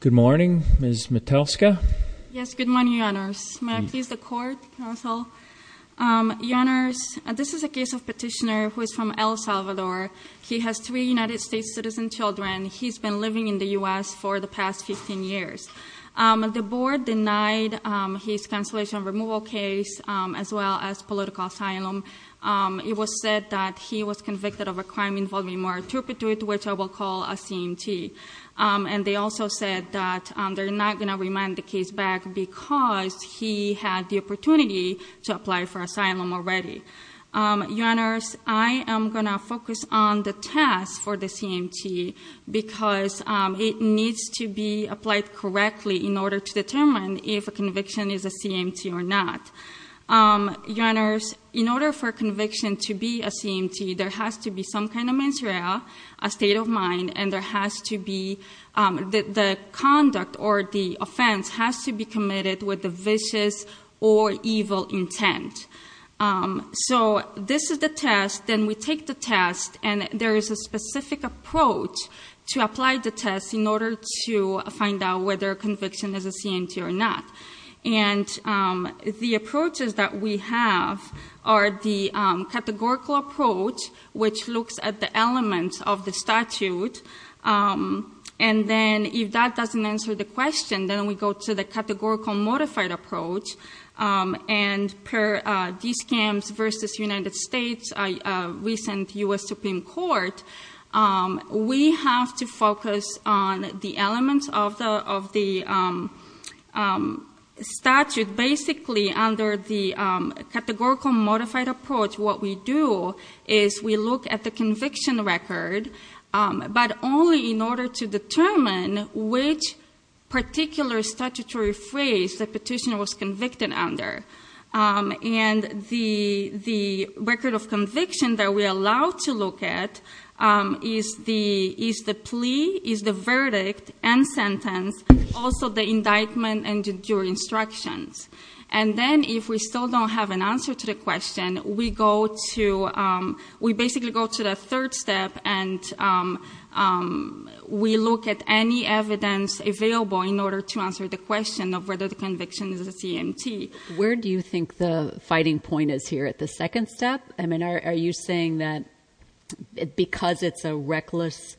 Good morning, Ms. Metelska. Yes, good morning, Your Honors. May I please the court, counsel? Your Honors, this is a case of petitioner who is from El Salvador. He has three United States citizen children. He's been living in the U.S. for the past 15 years. The board denied his cancellation removal case as well as political asylum. It was said that he was convicted of a crime involving marturpitude, which I will call a CMT. And they also said that they're not going to remand the case back because he had the opportunity to apply for asylum already. Your Honors, I am going to focus on the task for the CMT because it needs to be applied correctly in order to determine if a conviction is a CMT or not. Your Honors, in order for a conviction to be a CMT, there has to be some kind of mantra, a state of mind, and there has to be the conduct or the offense has to be committed with a vicious or evil intent. So this is the test. Then we take the test and there is a specific approach to apply the test in order to find out whether a conviction is a CMT or not. And the approaches that we have are the categorical approach, which looks at the elements of the statute. And then if that doesn't answer the question, then we go to the categorical modified approach. And per DSCAMS v. United States recent U.S. Supreme Court, we have to focus on the elements of the statute. Basically, under the categorical approach, what we do is we look at the conviction record but only in order to determine which particular statutory phrase the petitioner was convicted under. And the record of conviction that we are allowed to look at is the plea, is the verdict, and sentence, also the indictment and your instructions. And then if we still don't have an answer to the question, we basically go to the third step and we look at any evidence available in order to answer the question of whether the conviction is a CMT. Where do you think the fighting point is here at the second step? Are you saying that because it's a reckless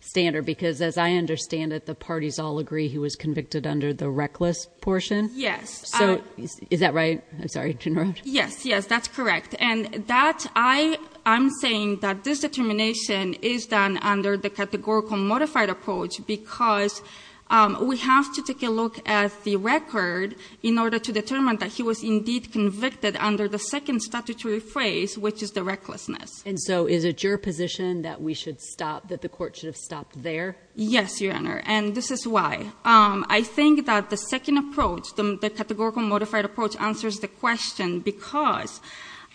standard, because as I understand it, the parties all agree he was convicted under the reckless portion? Yes. Is that right? I'm sorry to interrupt. Yes, yes, that's correct. And that, I'm saying that this determination is done under the categorical modified approach because we have to take a look at the record in order to determine that he was indeed convicted under the second statutory phrase, which is the recklessness. And so is it your position that we should stop, that the court should have stopped there? Yes, Your Honor, and this is why. I think that the second approach, the categorical modified approach answers the question because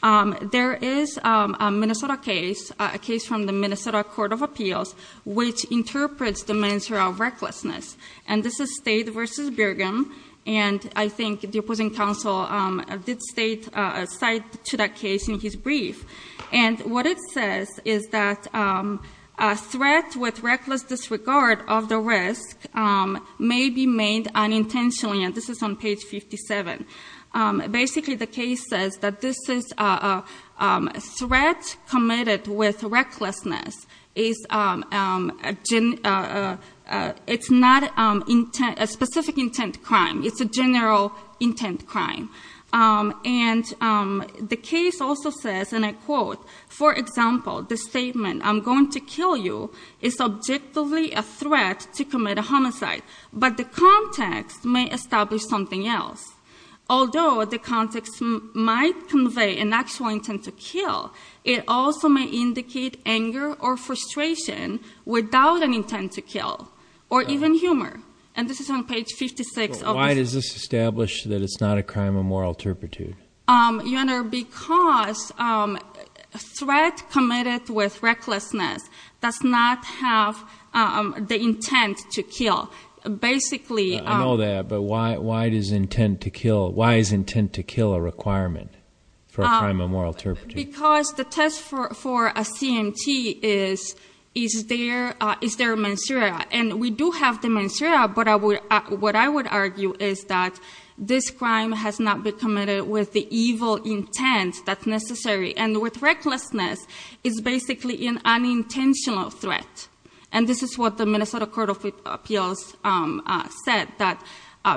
there is a Minnesota case, a case from the Minnesota Court of Appeals which interprets the measure of recklessness. And this is State v. Birgham, and I think the opposing counsel did cite to that case in his brief. And what it says is that a threat with recklessness may be made unintentionally, and this is on page 57. Basically the case says that this is a threat committed with recklessness is not a specific intent crime. It's a general intent crime. And the case also says, and I quote, for example, the statement, I'm going to kill you, is subjectively a threat to commit a homicide, but the context may establish something else. Although the context might convey an actual intent to kill, it also may indicate anger or frustration without an intent to kill, or even humor. And this is on page 56. Why does this establish that it's not a crime of moral turpitude? Your Honor, because threat committed with recklessness does not have the intent to kill. I know that, but why does intent to kill a requirement for a crime of moral turpitude? Because the test for a CMT is is there a mensura? And we do have the mensura, but what I would argue is that this crime has not been committed with the evil intent that's necessary. And with and this is what the Minnesota Court of Appeals said, that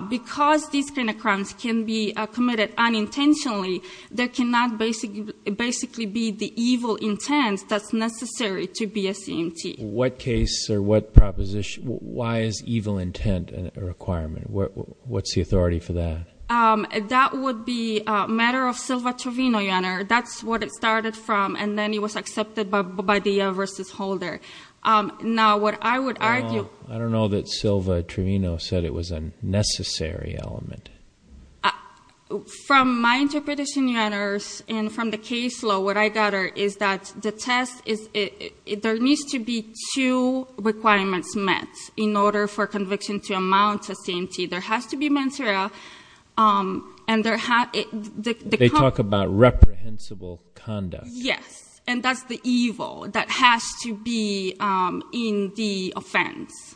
because these kind of crimes can be committed unintentionally, there cannot basically be the evil intent that's necessary to be a CMT. What case or what proposition why is evil intent a requirement? What's the authority for that? That would be a matter of Silva-Trovino, Your Honor. That's what it started from, and then it was accepted by the mensura versus holder. Now, what I would argue I don't know that Silva-Trovino said it was a necessary element. From my interpretation, Your Honor, and from the case law, what I got is that the test, there needs to be two requirements met in order for conviction to amount to CMT. There has to be mensura, and there They talk about reprehensible conduct. Yes, and that's the evil that has to be in the offense.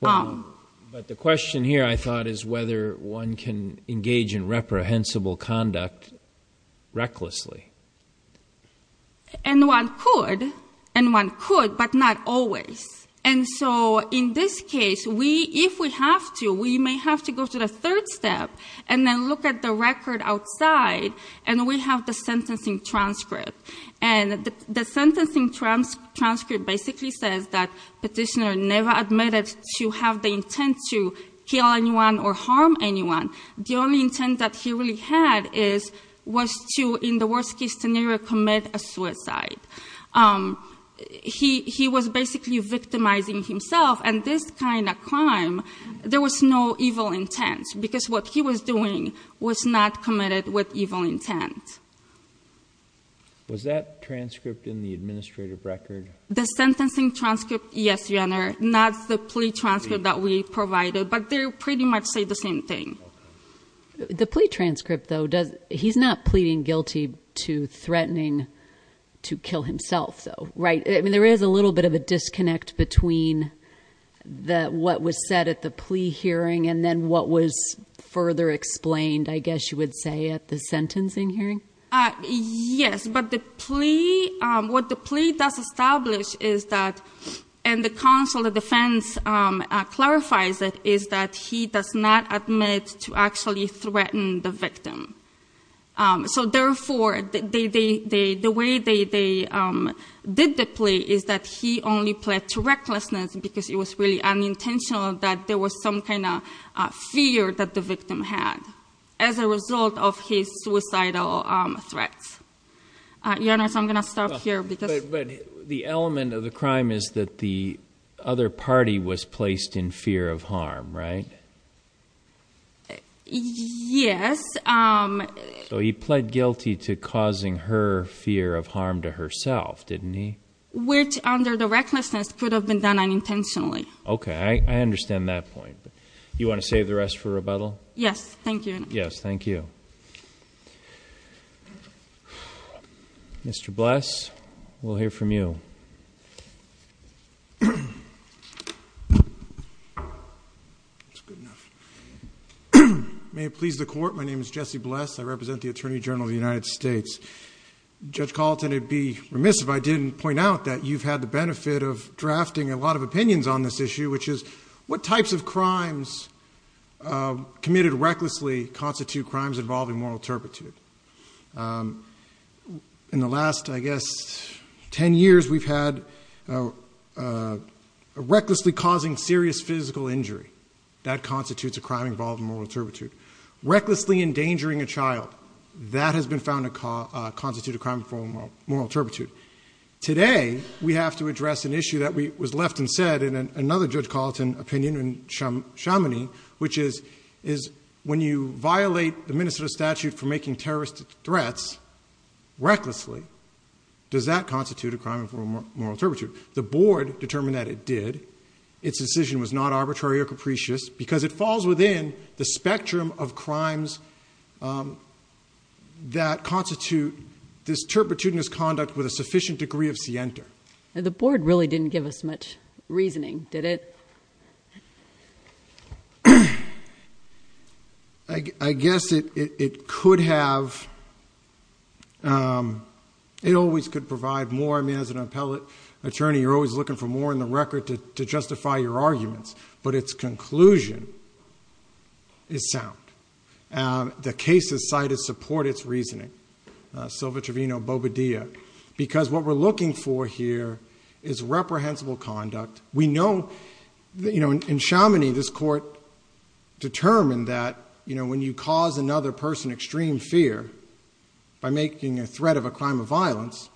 But the question here, I thought, is whether one can engage in reprehensible conduct recklessly. And one could, but not always. And so in this case, if we have to, we may have to go to the third step and then look at the record outside, and we have the sentencing transcript. And the sentencing transcript basically says that petitioner never admitted to have the intent to kill anyone or harm anyone. The only intent that he really had was to, in the worst case scenario, commit a suicide. He was basically victimizing himself, and this kind of crime, there was no evil intent, because what he was doing was not committed with evil intent. Was that transcript in the administrative record? The sentencing transcript, yes, Your Honor. Not the plea transcript that we provided. But they pretty much say the same thing. The plea transcript, though, he's not pleading guilty to threatening to kill himself, though, right? I mean, there is a little bit of a disconnect between what was said at the plea hearing and then what was what you would say at the sentencing hearing? Yes, but the plea, what the plea does establish is that and the counsel of defense clarifies it, is that he does not admit to actually threaten the victim. So therefore, the way they did the plea is that he only pled to recklessness because it was really unintentional that there was some kind of fear that the victim had as a result of his suicidal threats. Your Honor, so I'm going to stop here. But the element of the crime is that the other party was placed in fear of harm, right? Yes. So he pled guilty to causing her fear of harm to herself, didn't he? Which, under the recklessness, could have been done unintentionally. Okay, I understand that point. You want to save the rest for rebuttal? Yes, thank you, Your Honor. Mr. Bless, we'll hear from you. May it please the Court, my name is Jesse Bless, I represent the Attorney General of the United States. Judge Colton, it would be remiss if I didn't point out that you've had the benefit of drafting a lot of opinions on this issue, which is what types of crimes committed recklessly constitute crimes involving moral turpitude? In the last, I guess, ten years, we've had recklessly causing serious physical injury, that constitutes a crime involving moral turpitude. Recklessly endangering a child, that has been found to constitute a crime involving moral turpitude. Today, we have to address an issue that was left unsaid in another Judge Colton opinion, in Chameney, which is when you violate the Minnesota statute for making terrorist threats, recklessly, does that constitute a crime involving moral turpitude? The Board determined that it did. Its decision was not arbitrary or capricious, because it falls within the spectrum of crimes that constitute this turpitudinous conduct with a sufficient degree of scienter. The Board really didn't give us much reasoning, did it? I guess it could have it always could provide more. I mean, as an appellate attorney, you're always looking for more in the record to justify your arguments, but its conclusion is sound. The cases cited support its reasoning. What we're looking for here is reprehensible conduct. In Chameney, this Court determined that when you cause another person extreme fear by making a threat of a crime of violence,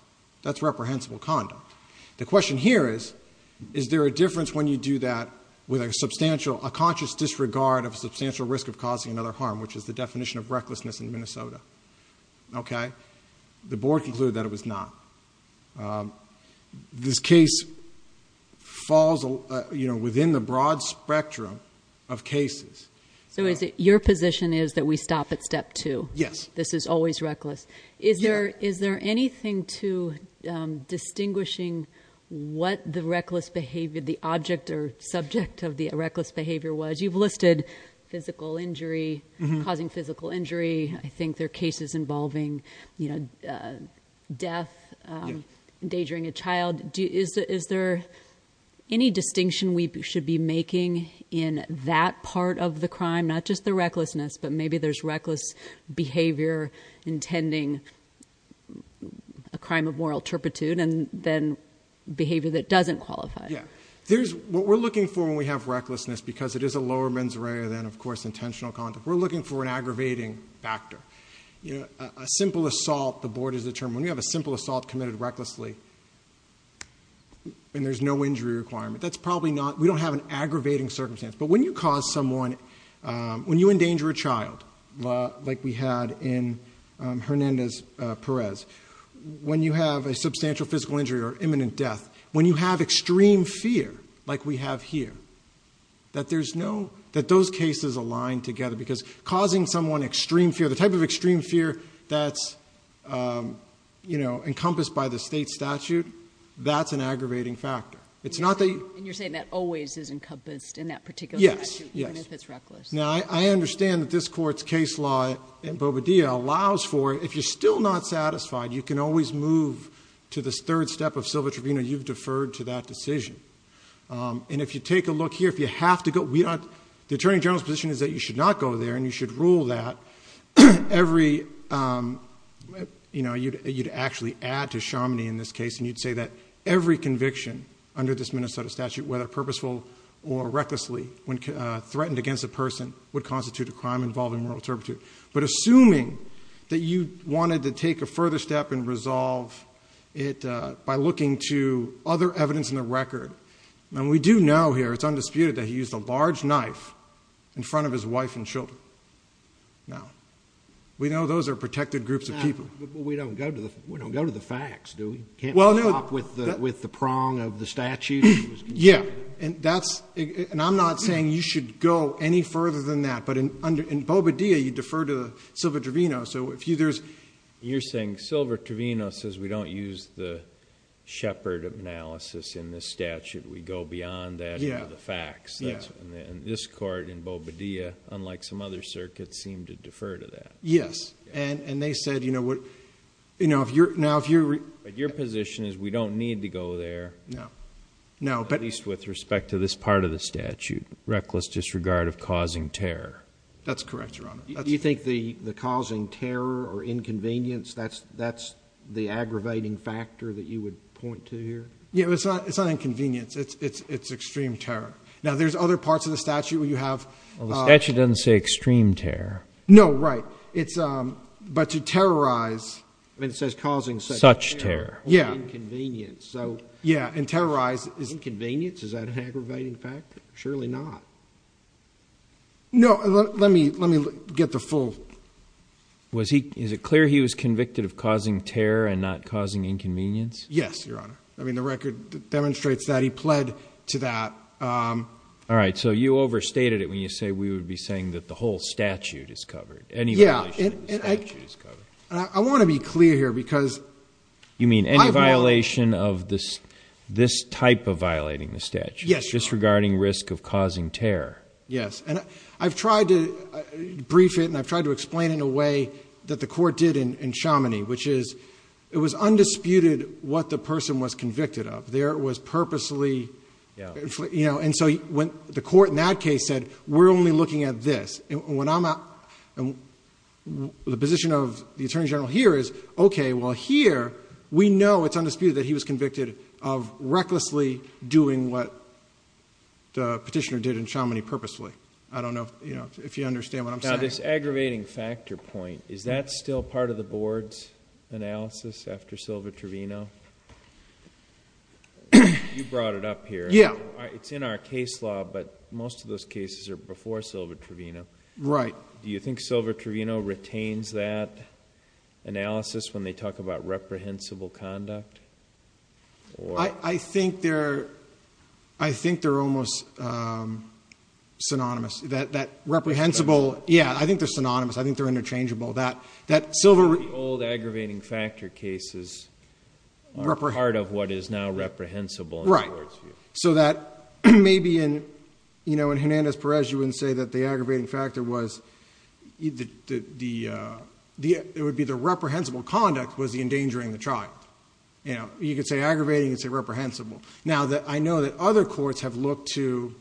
that's reprehensible conduct. The question here is, is there a difference when you do that with a conscious disregard of a substantial risk of causing another harm, which is the definition of recklessness in Minnesota. The Board concluded that it was not. This case falls within the broad spectrum of cases. So your position is that we stop at step two? Yes. This is always reckless. Is there anything to distinguishing what the reckless behavior, the object or subject of the reckless behavior was? You've listed physical injury, causing physical injury. I think there are cases involving death, endangering a child. Is there any distinction we should be making in that part of the crime, not just the recklessness, but maybe there's reckless behavior intending a crime of moral turpitude and then behavior that doesn't qualify. What we're looking for when we have reckless behavior, we're looking for an aggravating factor. A simple assault, the Board has determined, when you have a simple assault committed recklessly and there's no injury requirement, we don't have an aggravating circumstance. But when you cause someone, when you endanger a child, like we had in Hernandez-Perez, when you have a substantial physical injury or imminent death, when you have extreme fear, like we have here, that those cases align together because causing someone extreme fear, the type of extreme fear that's encompassed by the state statute, that's an aggravating factor. And you're saying that always is encompassed in that particular statute, even if it's reckless? Yes. Now, I understand that this Court's case law in Bobadilla allows for, if you're still not satisfied, you can always move to the third step of Silva-Trevino. You've deferred to that decision. And if you take a look here, if you have to go, the Attorney General's position is that you should not go there and you should rule that every, you know, you'd actually add to Chaminee in this case and you'd say that every conviction under this Minnesota statute, whether purposeful or recklessly, when threatened against a person, would constitute a crime involving moral turpitude. But assuming that you wanted to take a further step and resolve it by looking to other evidence in the record, and we do know here, it's undisputed, that he used a large knife in front of his wife and children. Now, we know those are protected groups of people. But we don't go to the facts, do we? Can't we stop with the prong of the statute? Yeah. And that's, and I'm not saying you should go any further than that. But in Bobadilla, you defer to Silva-Trevino. So if you, there's... You're saying Silva-Trevino says we don't use the Shepard analysis in this statute. We go beyond that into the facts. Yeah. And this court in Bobadilla, unlike some other circuits, seemed to defer to that. Yes. And they said, you know, what, you know, if you're, now if you're... But your position is we don't need to go there. No. No, but... At least with respect to this part of the statute, reckless disregard of causing terror. That's correct, Your Honor. You think the causing terror or the aggravating factor that you would point to here? Yeah, but it's not inconvenience. It's extreme terror. Now, there's other parts of the statute where you have... Well, the statute doesn't say extreme terror. No, right. It's... But to terrorize... I mean, it says causing such terror... Such terror. Yeah. Or inconvenience. So... Yeah. And terrorize is inconvenience? Is that an aggravating factor? Surely not. No. Let me get the full... Was he... Is it clear he was convicted of causing terror and not causing inconvenience? Yes, Your Honor. I mean, the record demonstrates that. He pled to that. All right. So you overstated it when you say we would be saying that the whole statute is covered. Any violation of the statute is covered. Yeah. And I want to be clear here because... You mean any violation of this type of violating the statute? Yes, Your Honor. Disregarding risk of causing terror. Yes. And I've tried to brief it and I've tried to explain it in a way that the court did in Chamonix, which is it was undisputed what the person was convicted of. There was purposely... Yeah. And so when the court in that case said, we're only looking at this. And when I'm... The position of the Attorney General here is, okay, well here we know it's undisputed that he was convicted of recklessly doing what the petitioner did in Chamonix purposefully. I don't know if you understand what I'm saying. Now this aggravating factor point, is that still part of the board's analysis after Silva Trevino? You brought it up here. Yeah. It's in our case law but most of those cases are before Silva Trevino. Right. Do you think Silva Trevino retains that analysis when they talk about reprehensible conduct? I think they're almost synonymous. That reprehensible... Yeah. I think they're synonymous. I think they're interchangeable. The old aggravating factor cases are part of what is now reprehensible in the court's view. Right. So that maybe in Hernandez-Perez you wouldn't say that the aggravating factor was it would be the reprehensible conduct was the endangering the child. You could say aggravating, you could say reprehensible. Now I know that other courts have looked to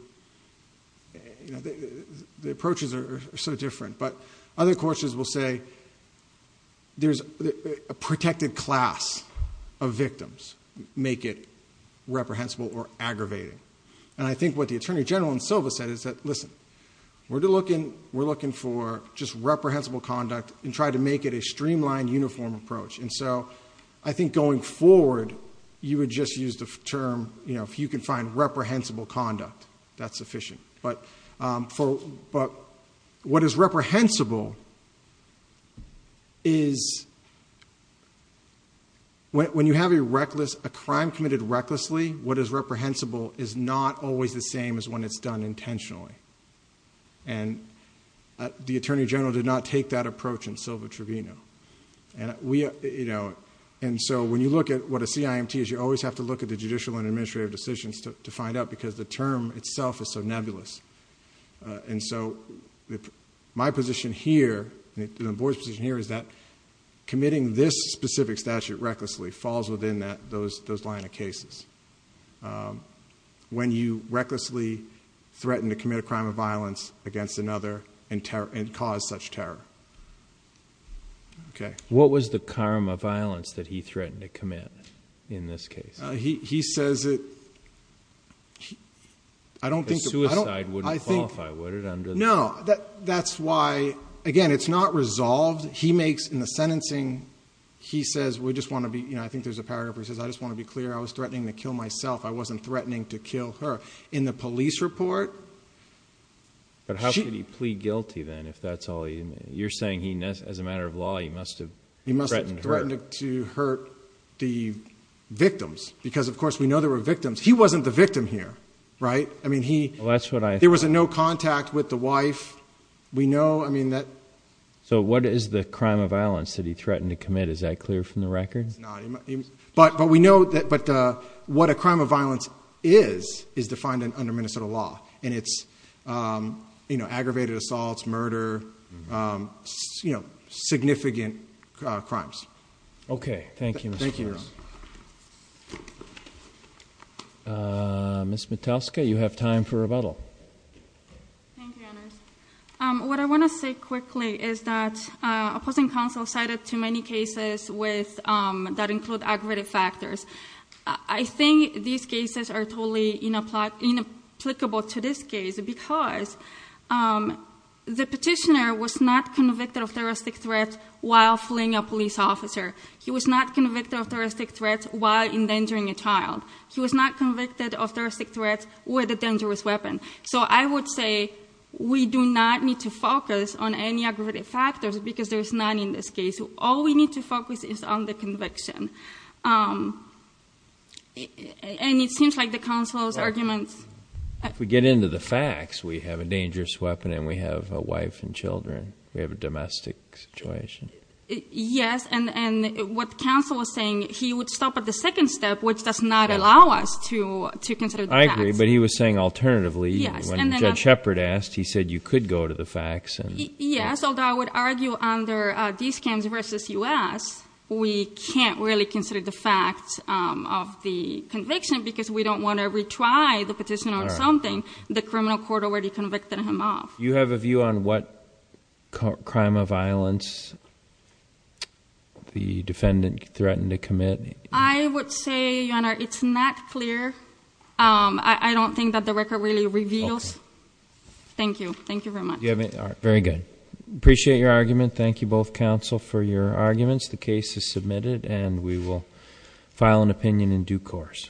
the approaches are so different. But other courts will say there's a protected class of victims make it reprehensible or aggravating. And I think what the Attorney General in Silva said is that listen we're looking for just reprehensible conduct and try to make it a streamlined uniform approach. And so I think going forward you would just use the term if you can find reprehensible conduct that's sufficient. But what is reprehensible is when you have a crime committed recklessly what is reprehensible is not always the same as when it's done intentionally. And the Attorney General did not take that approach in Silva Trevino. And so when you look at what a CIMT is you always have to look at the judicial and administrative decisions to find out because the term itself is so nebulous. And so my position here and the Board's position here is that committing this specific statute recklessly falls within those line of cases. When you recklessly threaten to commit a crime of violence against another and cause such terror. Okay. What was the crime of violence that he threatened to commit in this case? He says it I don't think. A suicide wouldn't qualify would it? No. That's why again it's not resolved. He makes in the sentencing he says we just want to be you know I think there's a paragraph where he says I just want to be clear I was threatening to kill myself. I wasn't threatening to kill her. In the police report. But how could he plead guilty then? You're saying as a matter of law he must have threatened to hurt the victims because of course we know there were victims. He wasn't the victim here. There was no contact with the wife. We know So what is the crime of violence that he threatened to commit? Is that clear from the record? But we know that what a crime of violence is is defined under Minnesota law. And it's aggravated assaults, murder, significant crimes. Okay. Thank you. Thank you. Ms. Matuska you have time for rebuttal. What I want to say quickly is that opposing counsel cited too many cases that include aggravated factors. I think these cases are totally inapplicable to this case because the petitioner was not convicted of terroristic threats while fleeing a police officer. He was not convicted of terroristic threats while endangering a child. He was not convicted of terroristic threats with a dangerous weapon. So I would say we do not need to focus on any aggravated factors because there's none in this case. All we need to focus is on the conviction. And it seems like the counsel's arguments... If we get into the facts, we have a dangerous weapon and we have a wife and children. We have a domestic situation. Yes, and what counsel was saying, he would stop at the second step which does not allow us to consider the facts. I agree, but he was saying alternatively. When Judge Shepard asked, he said you could go to the facts. Yes, although I would argue under these cases versus U.S. we can't really consider the facts of the conviction because we don't want to retry the petition or something. The criminal court already convicted him of. You have a view on what crime of violence the defendant threatened to commit? I would say, Your Honor, it's not clear. I don't think that the record really reveals. Thank you. Thank you very much. Very good. Appreciate your argument. Thank you both counsel for your arguments. The case is submitted and we will file an opinion in due course.